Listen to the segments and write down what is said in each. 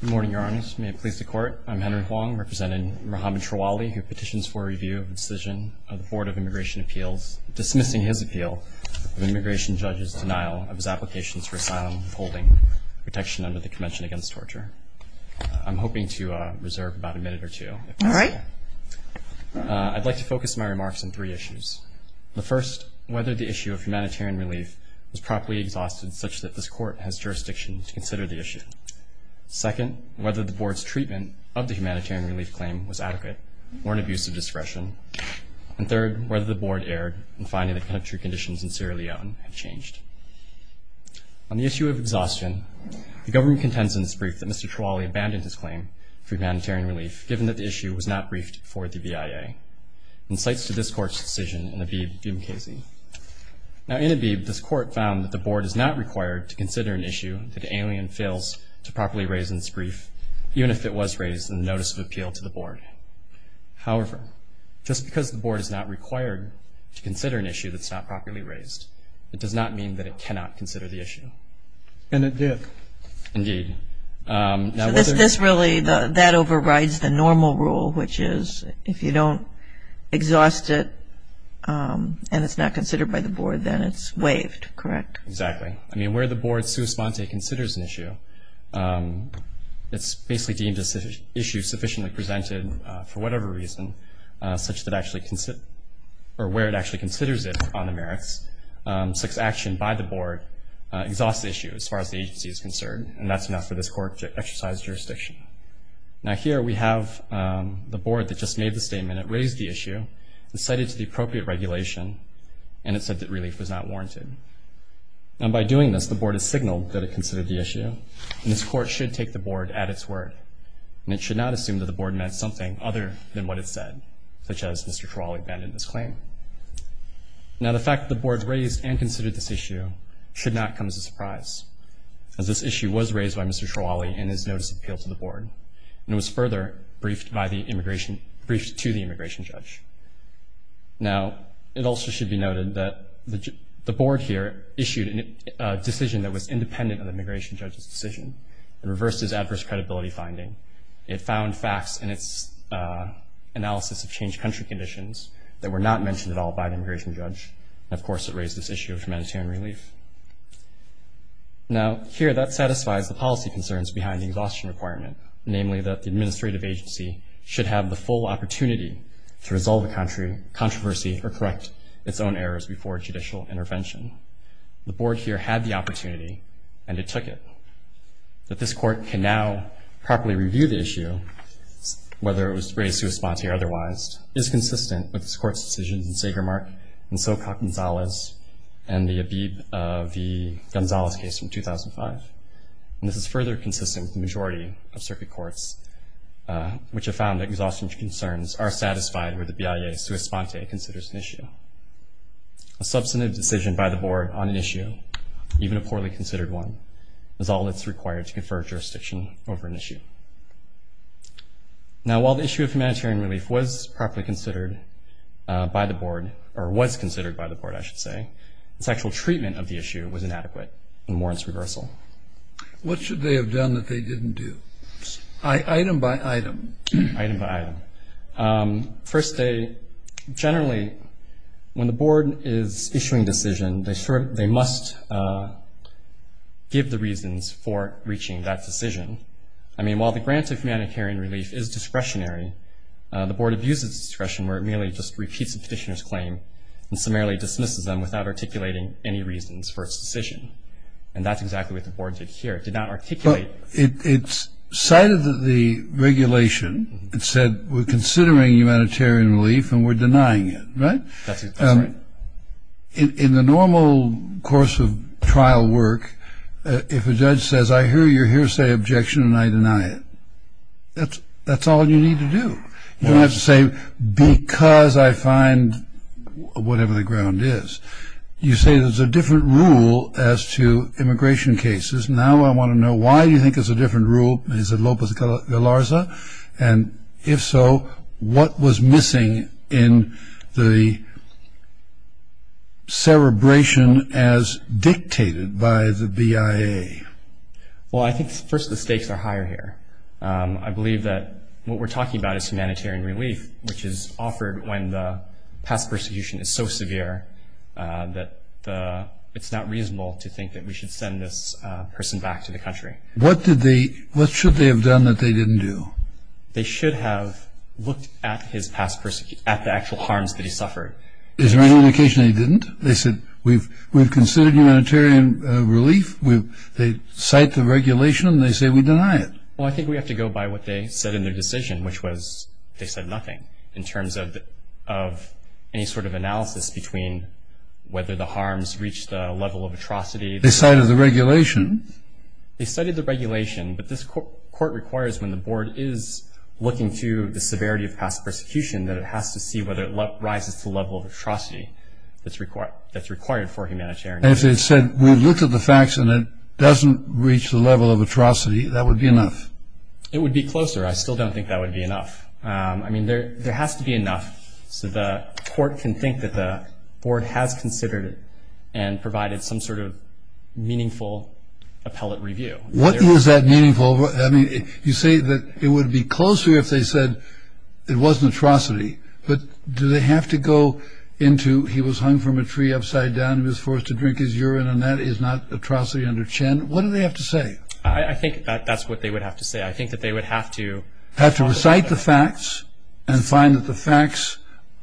Good morning, Your Honors. May it please the Court, I'm Henry Huang, representing Mohamed Trawally, who petitions for review of the decision of the Board of Immigration Appeals, dismissing his appeal of immigration judges' denial of his applications for asylum withholding protection under the Convention Against Torture. I'm hoping to reserve about a minute or two. All right. I'd like to focus my remarks on three issues. The first, whether the issue of humanitarian relief was properly exhausted such that this Court has jurisdiction to consider the issue. Second, whether the Board's treatment of the humanitarian relief claim was adequate or an abuse of discretion. And third, whether the Board erred in finding that country conditions in Sierra Leone had changed. On the issue of exhaustion, the government contends in its brief that Mr. Trawally abandoned his claim for humanitarian relief, given that the issue was not briefed before the BIA. And cites to this Court's decision in the Abebe-Bumkesee. Now, in Abebe, this Court found that the Board is not required to consider an issue that Alien fails to properly raise in its brief, even if it was raised in the Notice of Appeal to the Board. However, just because the Board is not required to consider an issue that's not properly raised, it does not mean that it cannot consider the issue. And it did. Indeed. So this really, that overrides the normal rule, which is if you don't exhaust it and it's not considered by the Board, then it's waived, correct? Exactly. I mean, where the Board sui sponte considers an issue, it's basically deemed an issue sufficiently presented for whatever reason, such that actually, or where it actually considers it on the merits, such action by the Board exhausts the issue as far as the agency is concerned. And that's enough for this Court to exercise jurisdiction. Now, here we have the Board that just made the statement. It raised the issue and cited it to the appropriate regulation, and it said that relief was not warranted. And by doing this, the Board has signaled that it considered the issue. And this Court should take the Board at its word. And it should not assume that the Board meant something other than what it said, such as Mr. Trawley abandoned his claim. Now, the fact that the Board raised and considered this issue should not come as a surprise. As this issue was raised by Mr. Trawley in his notice of appeal to the Board, and it was further briefed to the immigration judge. Now, it also should be noted that the Board here issued a decision that was independent of the immigration judge's decision and reversed his adverse credibility finding. It found facts in its analysis of changed country conditions that were not mentioned at all by the immigration judge. And, of course, it raised this issue of humanitarian relief. Now, here that satisfies the policy concerns behind the exhaustion requirement, namely that the administrative agency should have the full opportunity to resolve a controversy or correct its own errors before judicial intervention. The Board here had the opportunity, and it took it. That this Court can now properly review the issue, whether it was raised to respond to it or otherwise, is consistent with this Court's decisions in Zagermark and Socal Gonzalez, and the Abib v. Gonzalez case from 2005. And this is further consistent with the majority of circuit courts, which have found that exhaustion concerns are satisfied where the BIA sua sponte considers an issue. A substantive decision by the Board on an issue, even a poorly considered one, Now, while the issue of humanitarian relief was properly considered by the Board, or was considered by the Board, I should say, the sexual treatment of the issue was inadequate and warrants reversal. What should they have done that they didn't do? Item by item. Item by item. First, they generally, when the Board is issuing a decision, they must give the reasons for reaching that decision. I mean, while the grant of humanitarian relief is discretionary, the Board abuses discretion where it merely just repeats the petitioner's claim and summarily dismisses them without articulating any reasons for its decision. And that's exactly what the Board did here. It did not articulate. It cited the regulation. It said we're considering humanitarian relief and we're denying it. Right? That's right. In the normal course of trial work, if a judge says I hear your hearsay objection and I deny it, that's all you need to do. You don't have to say because I find whatever the ground is. You say there's a different rule as to immigration cases. Now I want to know why you think there's a different rule. Is it Lopez-Galarza? And if so, what was missing in the celebration as dictated by the BIA? Well, I think, first, the stakes are higher here. I believe that what we're talking about is humanitarian relief, which is offered when the past persecution is so severe that it's not reasonable to think that we should send this person back to the country. What should they have done that they didn't do? They should have looked at the actual harms that he suffered. Is there any indication they didn't? They said we've considered humanitarian relief. They cite the regulation and they say we deny it. Well, I think we have to go by what they said in their decision, which was they said nothing in terms of any sort of analysis between whether the harms reached the level of atrocity. They cited the regulation. They cited the regulation, but this court requires when the board is looking to the severity of past persecution that it has to see whether it rises to the level of atrocity that's required for humanitarian relief. And if they said we looked at the facts and it doesn't reach the level of atrocity, that would be enough? It would be closer. I still don't think that would be enough. I mean, there has to be enough so the court can think that the board has considered and provided some sort of meaningful appellate review. What is that meaningful? I mean, you say that it would be closer if they said it wasn't atrocity, but do they have to go into he was hung from a tree upside down and was forced to drink his urine and that is not atrocity under Chen? What do they have to say? I think that's what they would have to say. I think that they would have to- Have to recite the facts and find that the facts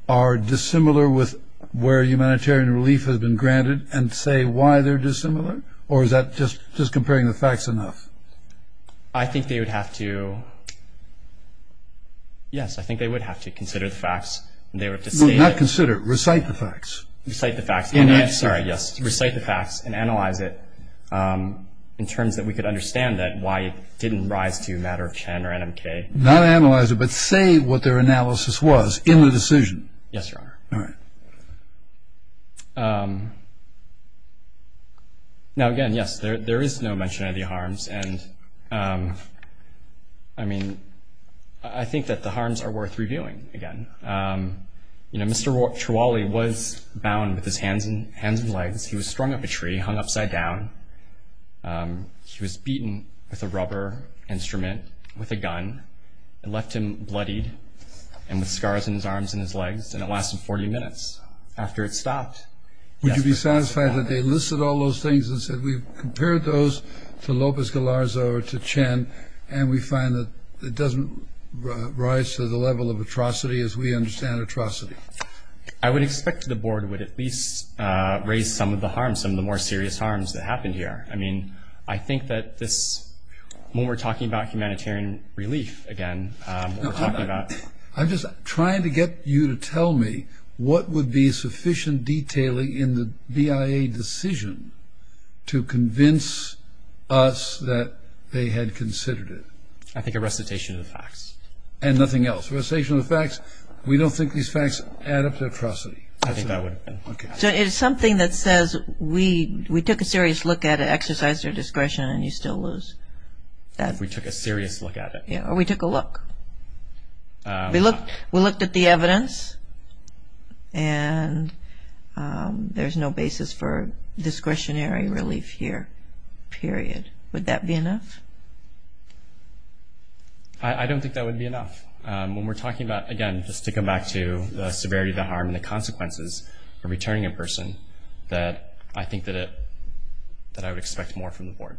are dissimilar with where humanitarian relief has been granted and say why they're dissimilar? Or is that just comparing the facts enough? I think they would have to, yes, I think they would have to consider the facts. Not consider, recite the facts. Recite the facts. Sorry, yes, recite the facts and analyze it in terms that we could understand why it didn't rise to a matter of Chen or NMK. Not analyze it, but say what their analysis was in the decision. Yes, Your Honor. All right. Now, again, yes, there is no mention of the harms. And, I mean, I think that the harms are worth reviewing again. You know, Mr. Trewally was bound with his hands and legs. He was strung up a tree, hung upside down. He was beaten with a rubber instrument, with a gun. It left him bloodied and with scars in his arms and his legs. And it lasted 40 minutes after it stopped. Would you be satisfied that they listed all those things and said we've compared those to Lopez Galarza or to Chen and we find that it doesn't rise to the level of atrocity as we understand atrocity? I would expect the Board would at least raise some of the harms, some of the more serious harms that happened here. I mean, I think that this, when we're talking about humanitarian relief again, what we're talking about. I'm just trying to get you to tell me what would be sufficient detailing in the BIA decision to convince us that they had considered it. I think a recitation of the facts. And nothing else. Recitation of the facts, we don't think these facts add up to atrocity. I think that would have been. Okay. So it's something that says we took a serious look at it, exercised our discretion, and you still lose. We took a serious look at it. Or we took a look. We looked at the evidence, and there's no basis for discretionary relief here, period. Would that be enough? I don't think that would be enough. When we're talking about, again, just to come back to the severity of the harm and the consequences of returning a person, I think that I would expect more from the board.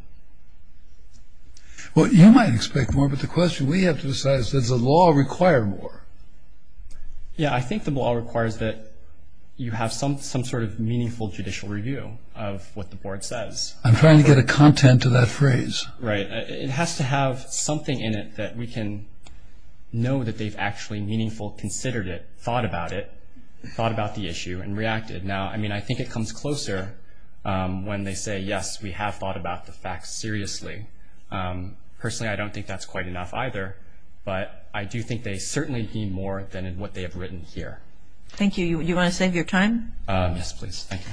Well, you might expect more, but the question we have to decide is, does the law require more? Yeah, I think the law requires that you have some sort of meaningful judicial review of what the board says. I'm trying to get a content to that phrase. Right. It has to have something in it that we can know that they've actually meaningful considered it, thought about it, thought about the issue, and reacted. Now, I mean, I think it comes closer when they say, yes, we have thought about the facts seriously. Personally, I don't think that's quite enough either, but I do think they certainly need more than what they have written here. Thank you. Do you want to save your time? Yes, please. Thank you.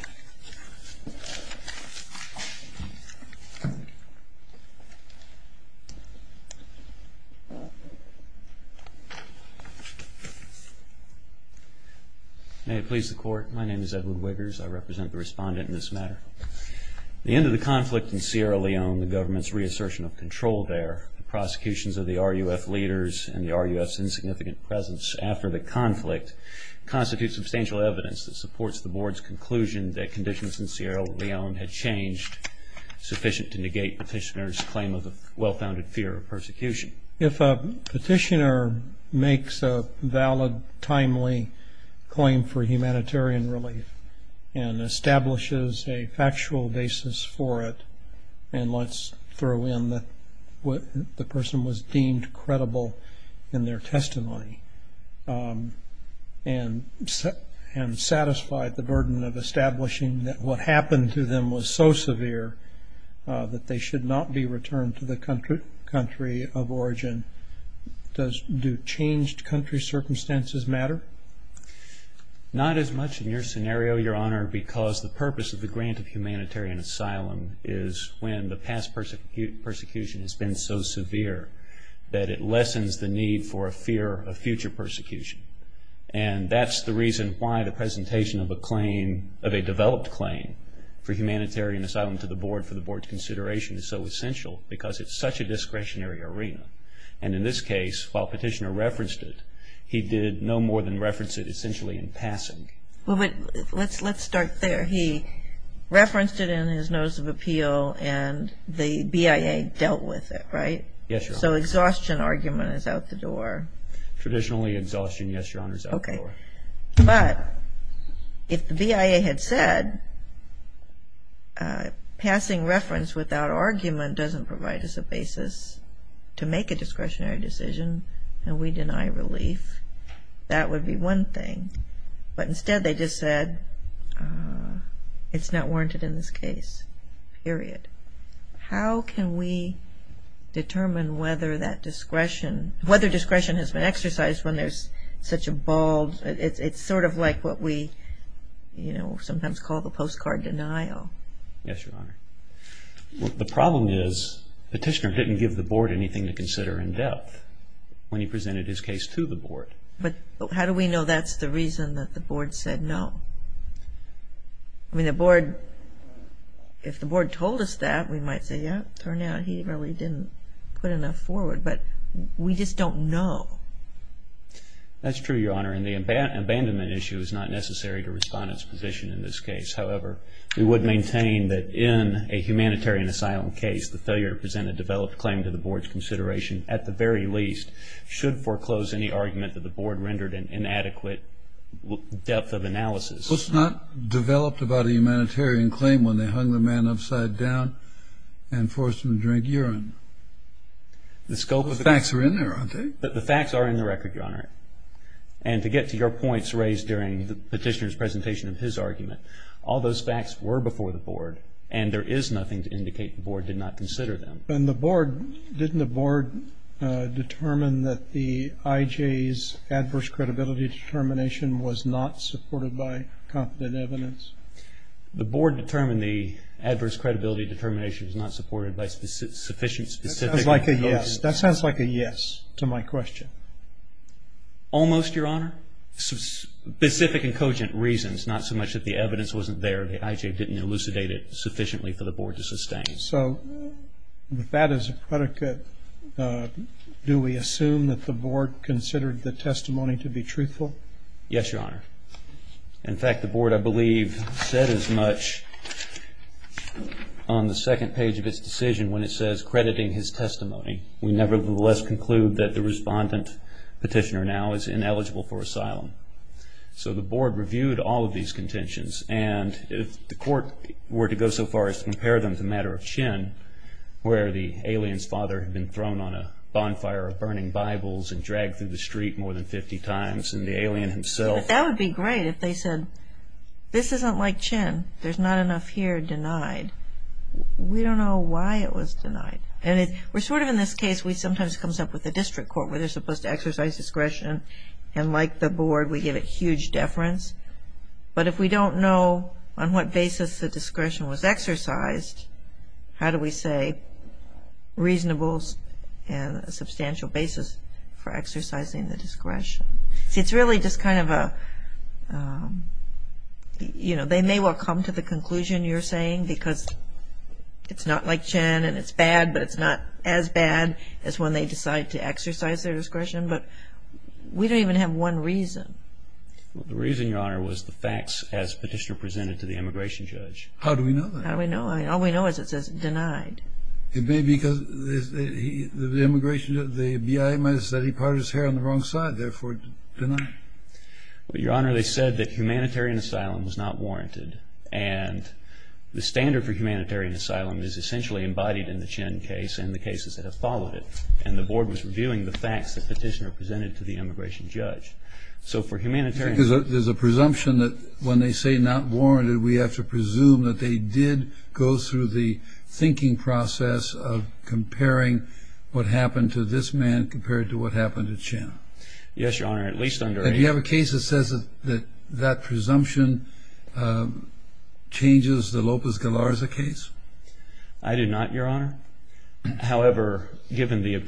May it please the court. My name is Edward Wiggers. I represent the respondent in this matter. The end of the conflict in Sierra Leone, the government's reassertion of control there, the prosecutions of the RUF leaders and the RUF's insignificant presence after the conflict constitutes substantial evidence that supports the board's conclusion that conditions in Sierra Leone had changed sufficient to negate petitioner's claim of a well-founded fear of persecution. If a petitioner makes a valid, timely claim for humanitarian relief and establishes a factual basis for it, and let's throw in that the person was deemed credible in their testimony and satisfied the burden of establishing that what happened to them was so severe that they should not be returned to the country of origin, do changed country circumstances matter? Not as much in your scenario, Your Honor, because the purpose of the grant of humanitarian asylum is when the past persecution has been so severe that it lessens the need for a fear of future persecution. And that's the reason why the presentation of a claim, of a developed claim for humanitarian asylum to the board for the board's consideration is so essential because it's such a discretionary arena. And in this case, while petitioner referenced it, he did no more than reference it essentially in passing. Well, but let's start there. He referenced it in his notice of appeal and the BIA dealt with it, right? Yes, Your Honor. So exhaustion argument is out the door. Traditionally exhaustion, yes, Your Honor, is out the door. Okay. But if the BIA had said passing reference without argument doesn't provide us a basis to make a discretionary decision and we deny relief, that would be one thing. But instead they just said it's not warranted in this case, period. How can we determine whether that discretion, whether discretion has been exercised when there's such a bald, it's sort of like what we, you know, sometimes call the postcard denial. Yes, Your Honor. The problem is petitioner didn't give the board anything to consider in depth when he presented his case to the board. But how do we know that's the reason that the board said no? I mean, the board, if the board told us that, we might say, yeah, it turned out he really didn't put enough forward. But we just don't know. That's true, Your Honor. And the abandonment issue is not necessary to respondant's position in this case. However, we would maintain that in a humanitarian asylum case, the failure to present a developed claim to the board's consideration, at the very least, should foreclose any argument that the board rendered an inadequate depth of analysis. Well, it's not developed about a humanitarian claim when they hung the man upside down and forced him to drink urine. The scope of the case. The facts are in there, aren't they? The facts are in the record, Your Honor. And to get to your points raised during the petitioner's presentation of his argument, all those facts were before the board, and there is nothing to indicate the board did not consider them. And the board, didn't the board determine that the IJ's adverse credibility determination was not supported by competent evidence? The board determined the adverse credibility determination was not supported by sufficient specific and cogent reasons. That sounds like a yes. That sounds like a yes to my question. Almost, Your Honor. Specific and cogent reasons, not so much that the evidence wasn't there, the IJ didn't elucidate it sufficiently for the board to sustain. So with that as a predicate, do we assume that the board considered the testimony to be truthful? Yes, Your Honor. In fact, the board, I believe, said as much on the second page of its decision when it says, crediting his testimony, we nevertheless conclude that the respondent petitioner now is ineligible for asylum. So the board reviewed all of these contentions, and if the court were to go so far as to compare them to the matter of Chin, where the alien's father had been thrown on a bonfire of burning Bibles and dragged through the street more than 50 times, and the alien himself. That would be great if they said, this isn't like Chin. There's not enough here denied. We don't know why it was denied. We're sort of in this case where it sometimes comes up with the district court where they're supposed to exercise discretion, and like the board, we give it huge deference. But if we don't know on what basis the discretion was exercised, how do we say reasonable and a substantial basis for exercising the discretion? It's really just kind of a, you know, they may well come to the conclusion you're saying because it's not like Chin and it's bad, but it's not as bad as when they decide to exercise their discretion. But we don't even have one reason. Well, the reason, Your Honor, was the facts as Petitioner presented to the immigration judge. How do we know that? How do we know? All we know is it says denied. It may be because the immigration judge, the BIA might have said he parted his hair on the wrong side, therefore denied. Well, Your Honor, they said that humanitarian asylum was not warranted, and the standard for humanitarian asylum is essentially embodied in the Chin case and the cases that have followed it, and the board was reviewing the facts that Petitioner presented to the immigration judge. So for humanitarian asylum... There's a presumption that when they say not warranted, we have to presume that they did go through the thinking process of comparing what happened to this man compared to what happened to Chin. Yes, Your Honor, at least under... Do you have a case that says that that presumption changes the Lopez-Galarza case? I do not, Your Honor. However, given the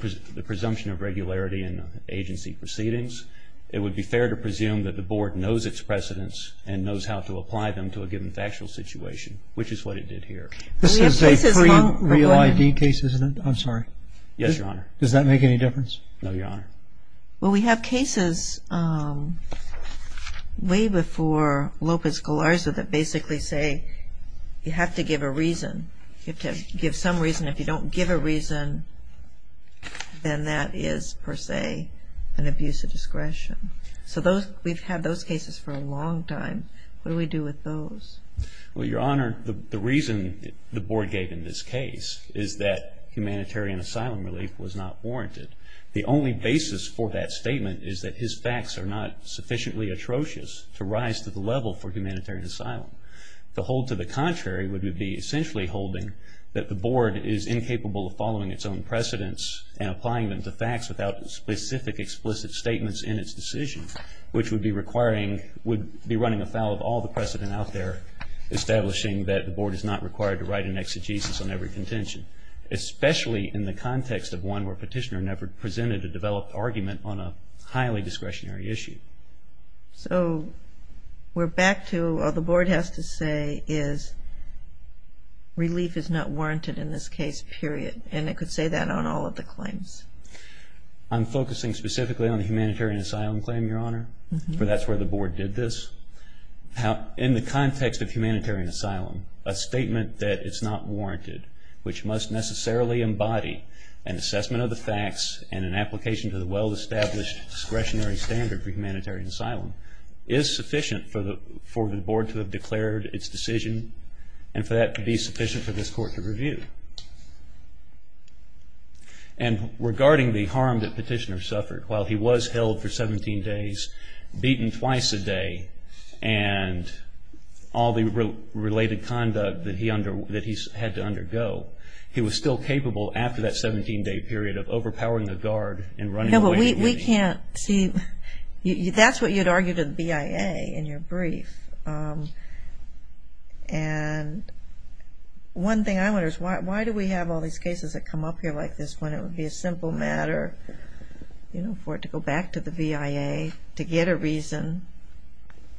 presumption of regularity in the agency proceedings, it would be fair to presume that the board knows its precedents and knows how to apply them to a given factual situation, which is what it did here. This is a pre-Real ID case, isn't it? I'm sorry. Yes, Your Honor. Does that make any difference? No, Your Honor. Well, we have cases way before Lopez-Galarza that basically say you have to give a reason. You have to give some reason. If you don't give a reason, then that is, per se, an abuse of discretion. So we've had those cases for a long time. What do we do with those? Well, Your Honor, the reason the board gave in this case is that humanitarian asylum relief was not warranted. The only basis for that statement is that his facts are not sufficiently atrocious to rise to the level for humanitarian asylum. The hold to the contrary would be essentially holding that the board is incapable of following its own precedents and applying them to facts without specific explicit statements in its decision, which would be running afoul of all the precedent out there, establishing that the board is not required to write an exegesis on every contention, especially in the context of one where Petitioner never presented a developed argument on a highly discretionary issue. So we're back to what the board has to say is relief is not warranted in this case, period. And it could say that on all of the claims. I'm focusing specifically on the humanitarian asylum claim, Your Honor, for that's where the board did this. In the context of humanitarian asylum, a statement that it's not warranted, which must necessarily embody an assessment of the facts and an application to the well-established discretionary standard for humanitarian asylum, is sufficient for the board to have declared its decision and for that to be sufficient for this court to review. And regarding the harm that Petitioner suffered, while he was held for 17 days, beaten twice a day, and all the related conduct that he had to undergo, he was still capable after that 17-day period of overpowering the guard and running away. No, but we can't see. That's what you'd argue to the BIA in your brief. And one thing I wonder is why do we have all these cases that come up here like this when it would be a simple matter, you know, for it to go back to the BIA to get a reason,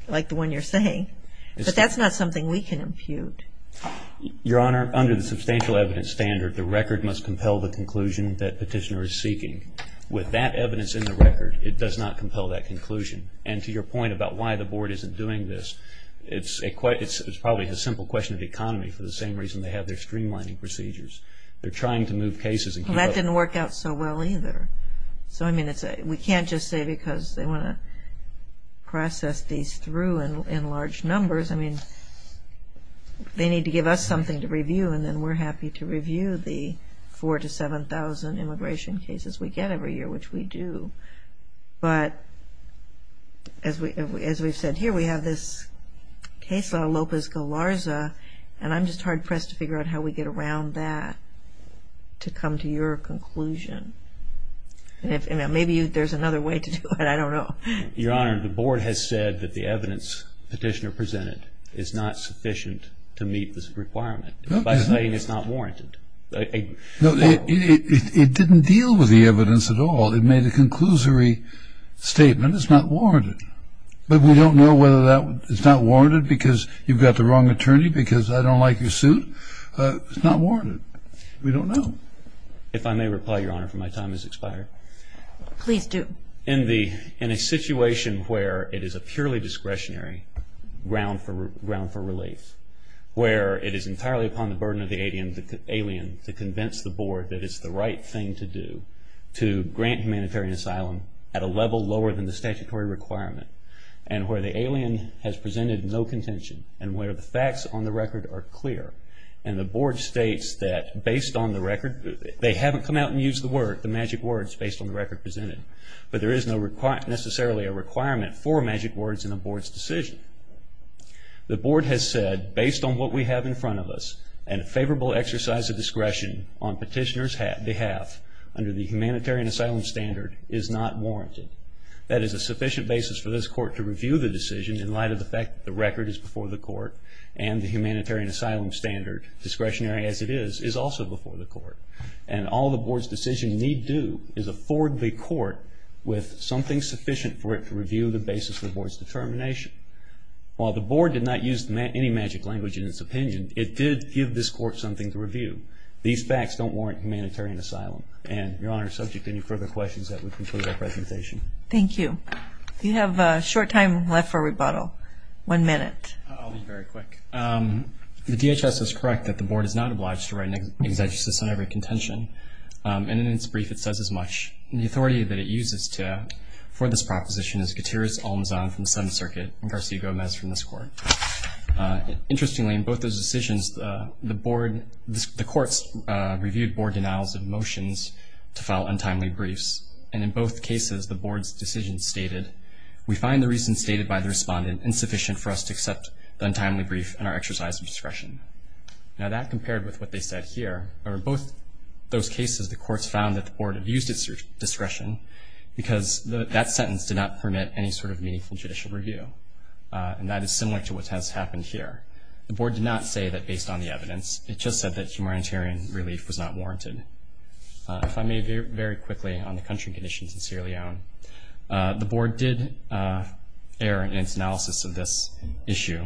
like the one you're saying, but that's not something we can impute. Your Honor, under the substantial evidence standard, the record must compel the conclusion that Petitioner is seeking. With that evidence in the record, it does not compel that conclusion. And to your point about why the board isn't doing this, it's probably a simple question of economy for the same reason they have their streamlining procedures. They're trying to move cases and keep up. Well, that didn't work out so well either. So, I mean, we can't just say because they want to process these through in large numbers. I mean, they need to give us something to review, and then we're happy to review the 4,000 to 7,000 immigration cases we get every year, which we do. But as we've said here, we have this case on Lopez-Galarza, and I'm just hard-pressed to figure out how we get around that to come to your conclusion. Maybe there's another way to do it. I don't know. Your Honor, the board has said that the evidence Petitioner presented is not sufficient to meet this requirement. By saying it's not warranted. No, it didn't deal with the evidence at all. It made a conclusory statement. It's not warranted. But we don't know whether it's not warranted because you've got the wrong attorney, because I don't like your suit. It's not warranted. We don't know. If I may reply, Your Honor, for my time has expired. Please do. In a situation where it is a purely discretionary ground for relief, where it is entirely upon the burden of the alien to convince the board that it's the right thing to do to grant humanitarian asylum at a level lower than the statutory requirement, and where the alien has presented no contention, and where the facts on the record are clear, and the board states that based on the record, they haven't come out and used the magic words based on the record presented, but there is not necessarily a requirement for magic words in the board's decision. The board has said, based on what we have in front of us, and a favorable exercise of discretion on Petitioner's behalf under the humanitarian asylum standard is not warranted. That is a sufficient basis for this court to review the decision in light of the fact that the record is before the court and the humanitarian asylum standard, discretionary as it is, is also before the court. And all the board's decision need do is afford the court with something sufficient for it to review the basis of the board's determination. While the board did not use any magic language in its opinion, it did give this court something to review. These facts don't warrant humanitarian asylum. And, Your Honor, subject to any further questions, that would conclude our presentation. Thank you. We have a short time left for rebuttal. One minute. I'll be very quick. The DHS is correct that the board is not obliged to write an exegesis on every contention. And in its brief, it says as much. The authority that it uses for this proposition is Gutierrez-Almazan from the Seventh Circuit and Garcia-Gomez from this court. Interestingly, in both those decisions, the court's reviewed board denials of motions to file untimely briefs. And in both cases, the board's decision stated, we find the reasons stated by the respondent insufficient for us to accept the untimely brief and our exercise of discretion. Now, that compared with what they said here. In both those cases, the courts found that the board abused its discretion because that sentence did not permit any sort of meaningful judicial review. And that is similar to what has happened here. The board did not say that based on the evidence. It just said that humanitarian relief was not warranted. If I may very quickly on the country conditions in Sierra Leone. The board did err in its analysis of this issue.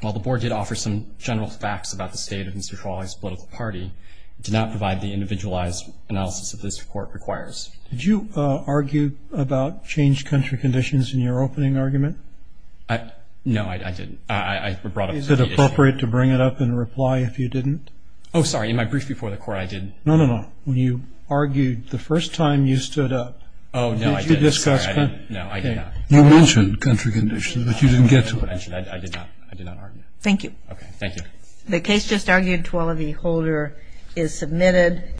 While the board did offer some general facts about the state of Mr. Crawley's political party, it did not provide the individualized analysis that this court requires. Did you argue about changed country conditions in your opening argument? No, I didn't. I brought up the issue. Is it appropriate to bring it up in reply if you didn't? Oh, sorry. In my brief before the court, I did. No, no, no. When you argued the first time, you stood up. Oh, no, I did. Did you discuss that? No, I did not. You mentioned country conditions, but you didn't get to it. I did not. I did not argue. Thank you. Okay, thank you. The case just argued to all of the holder is submitted.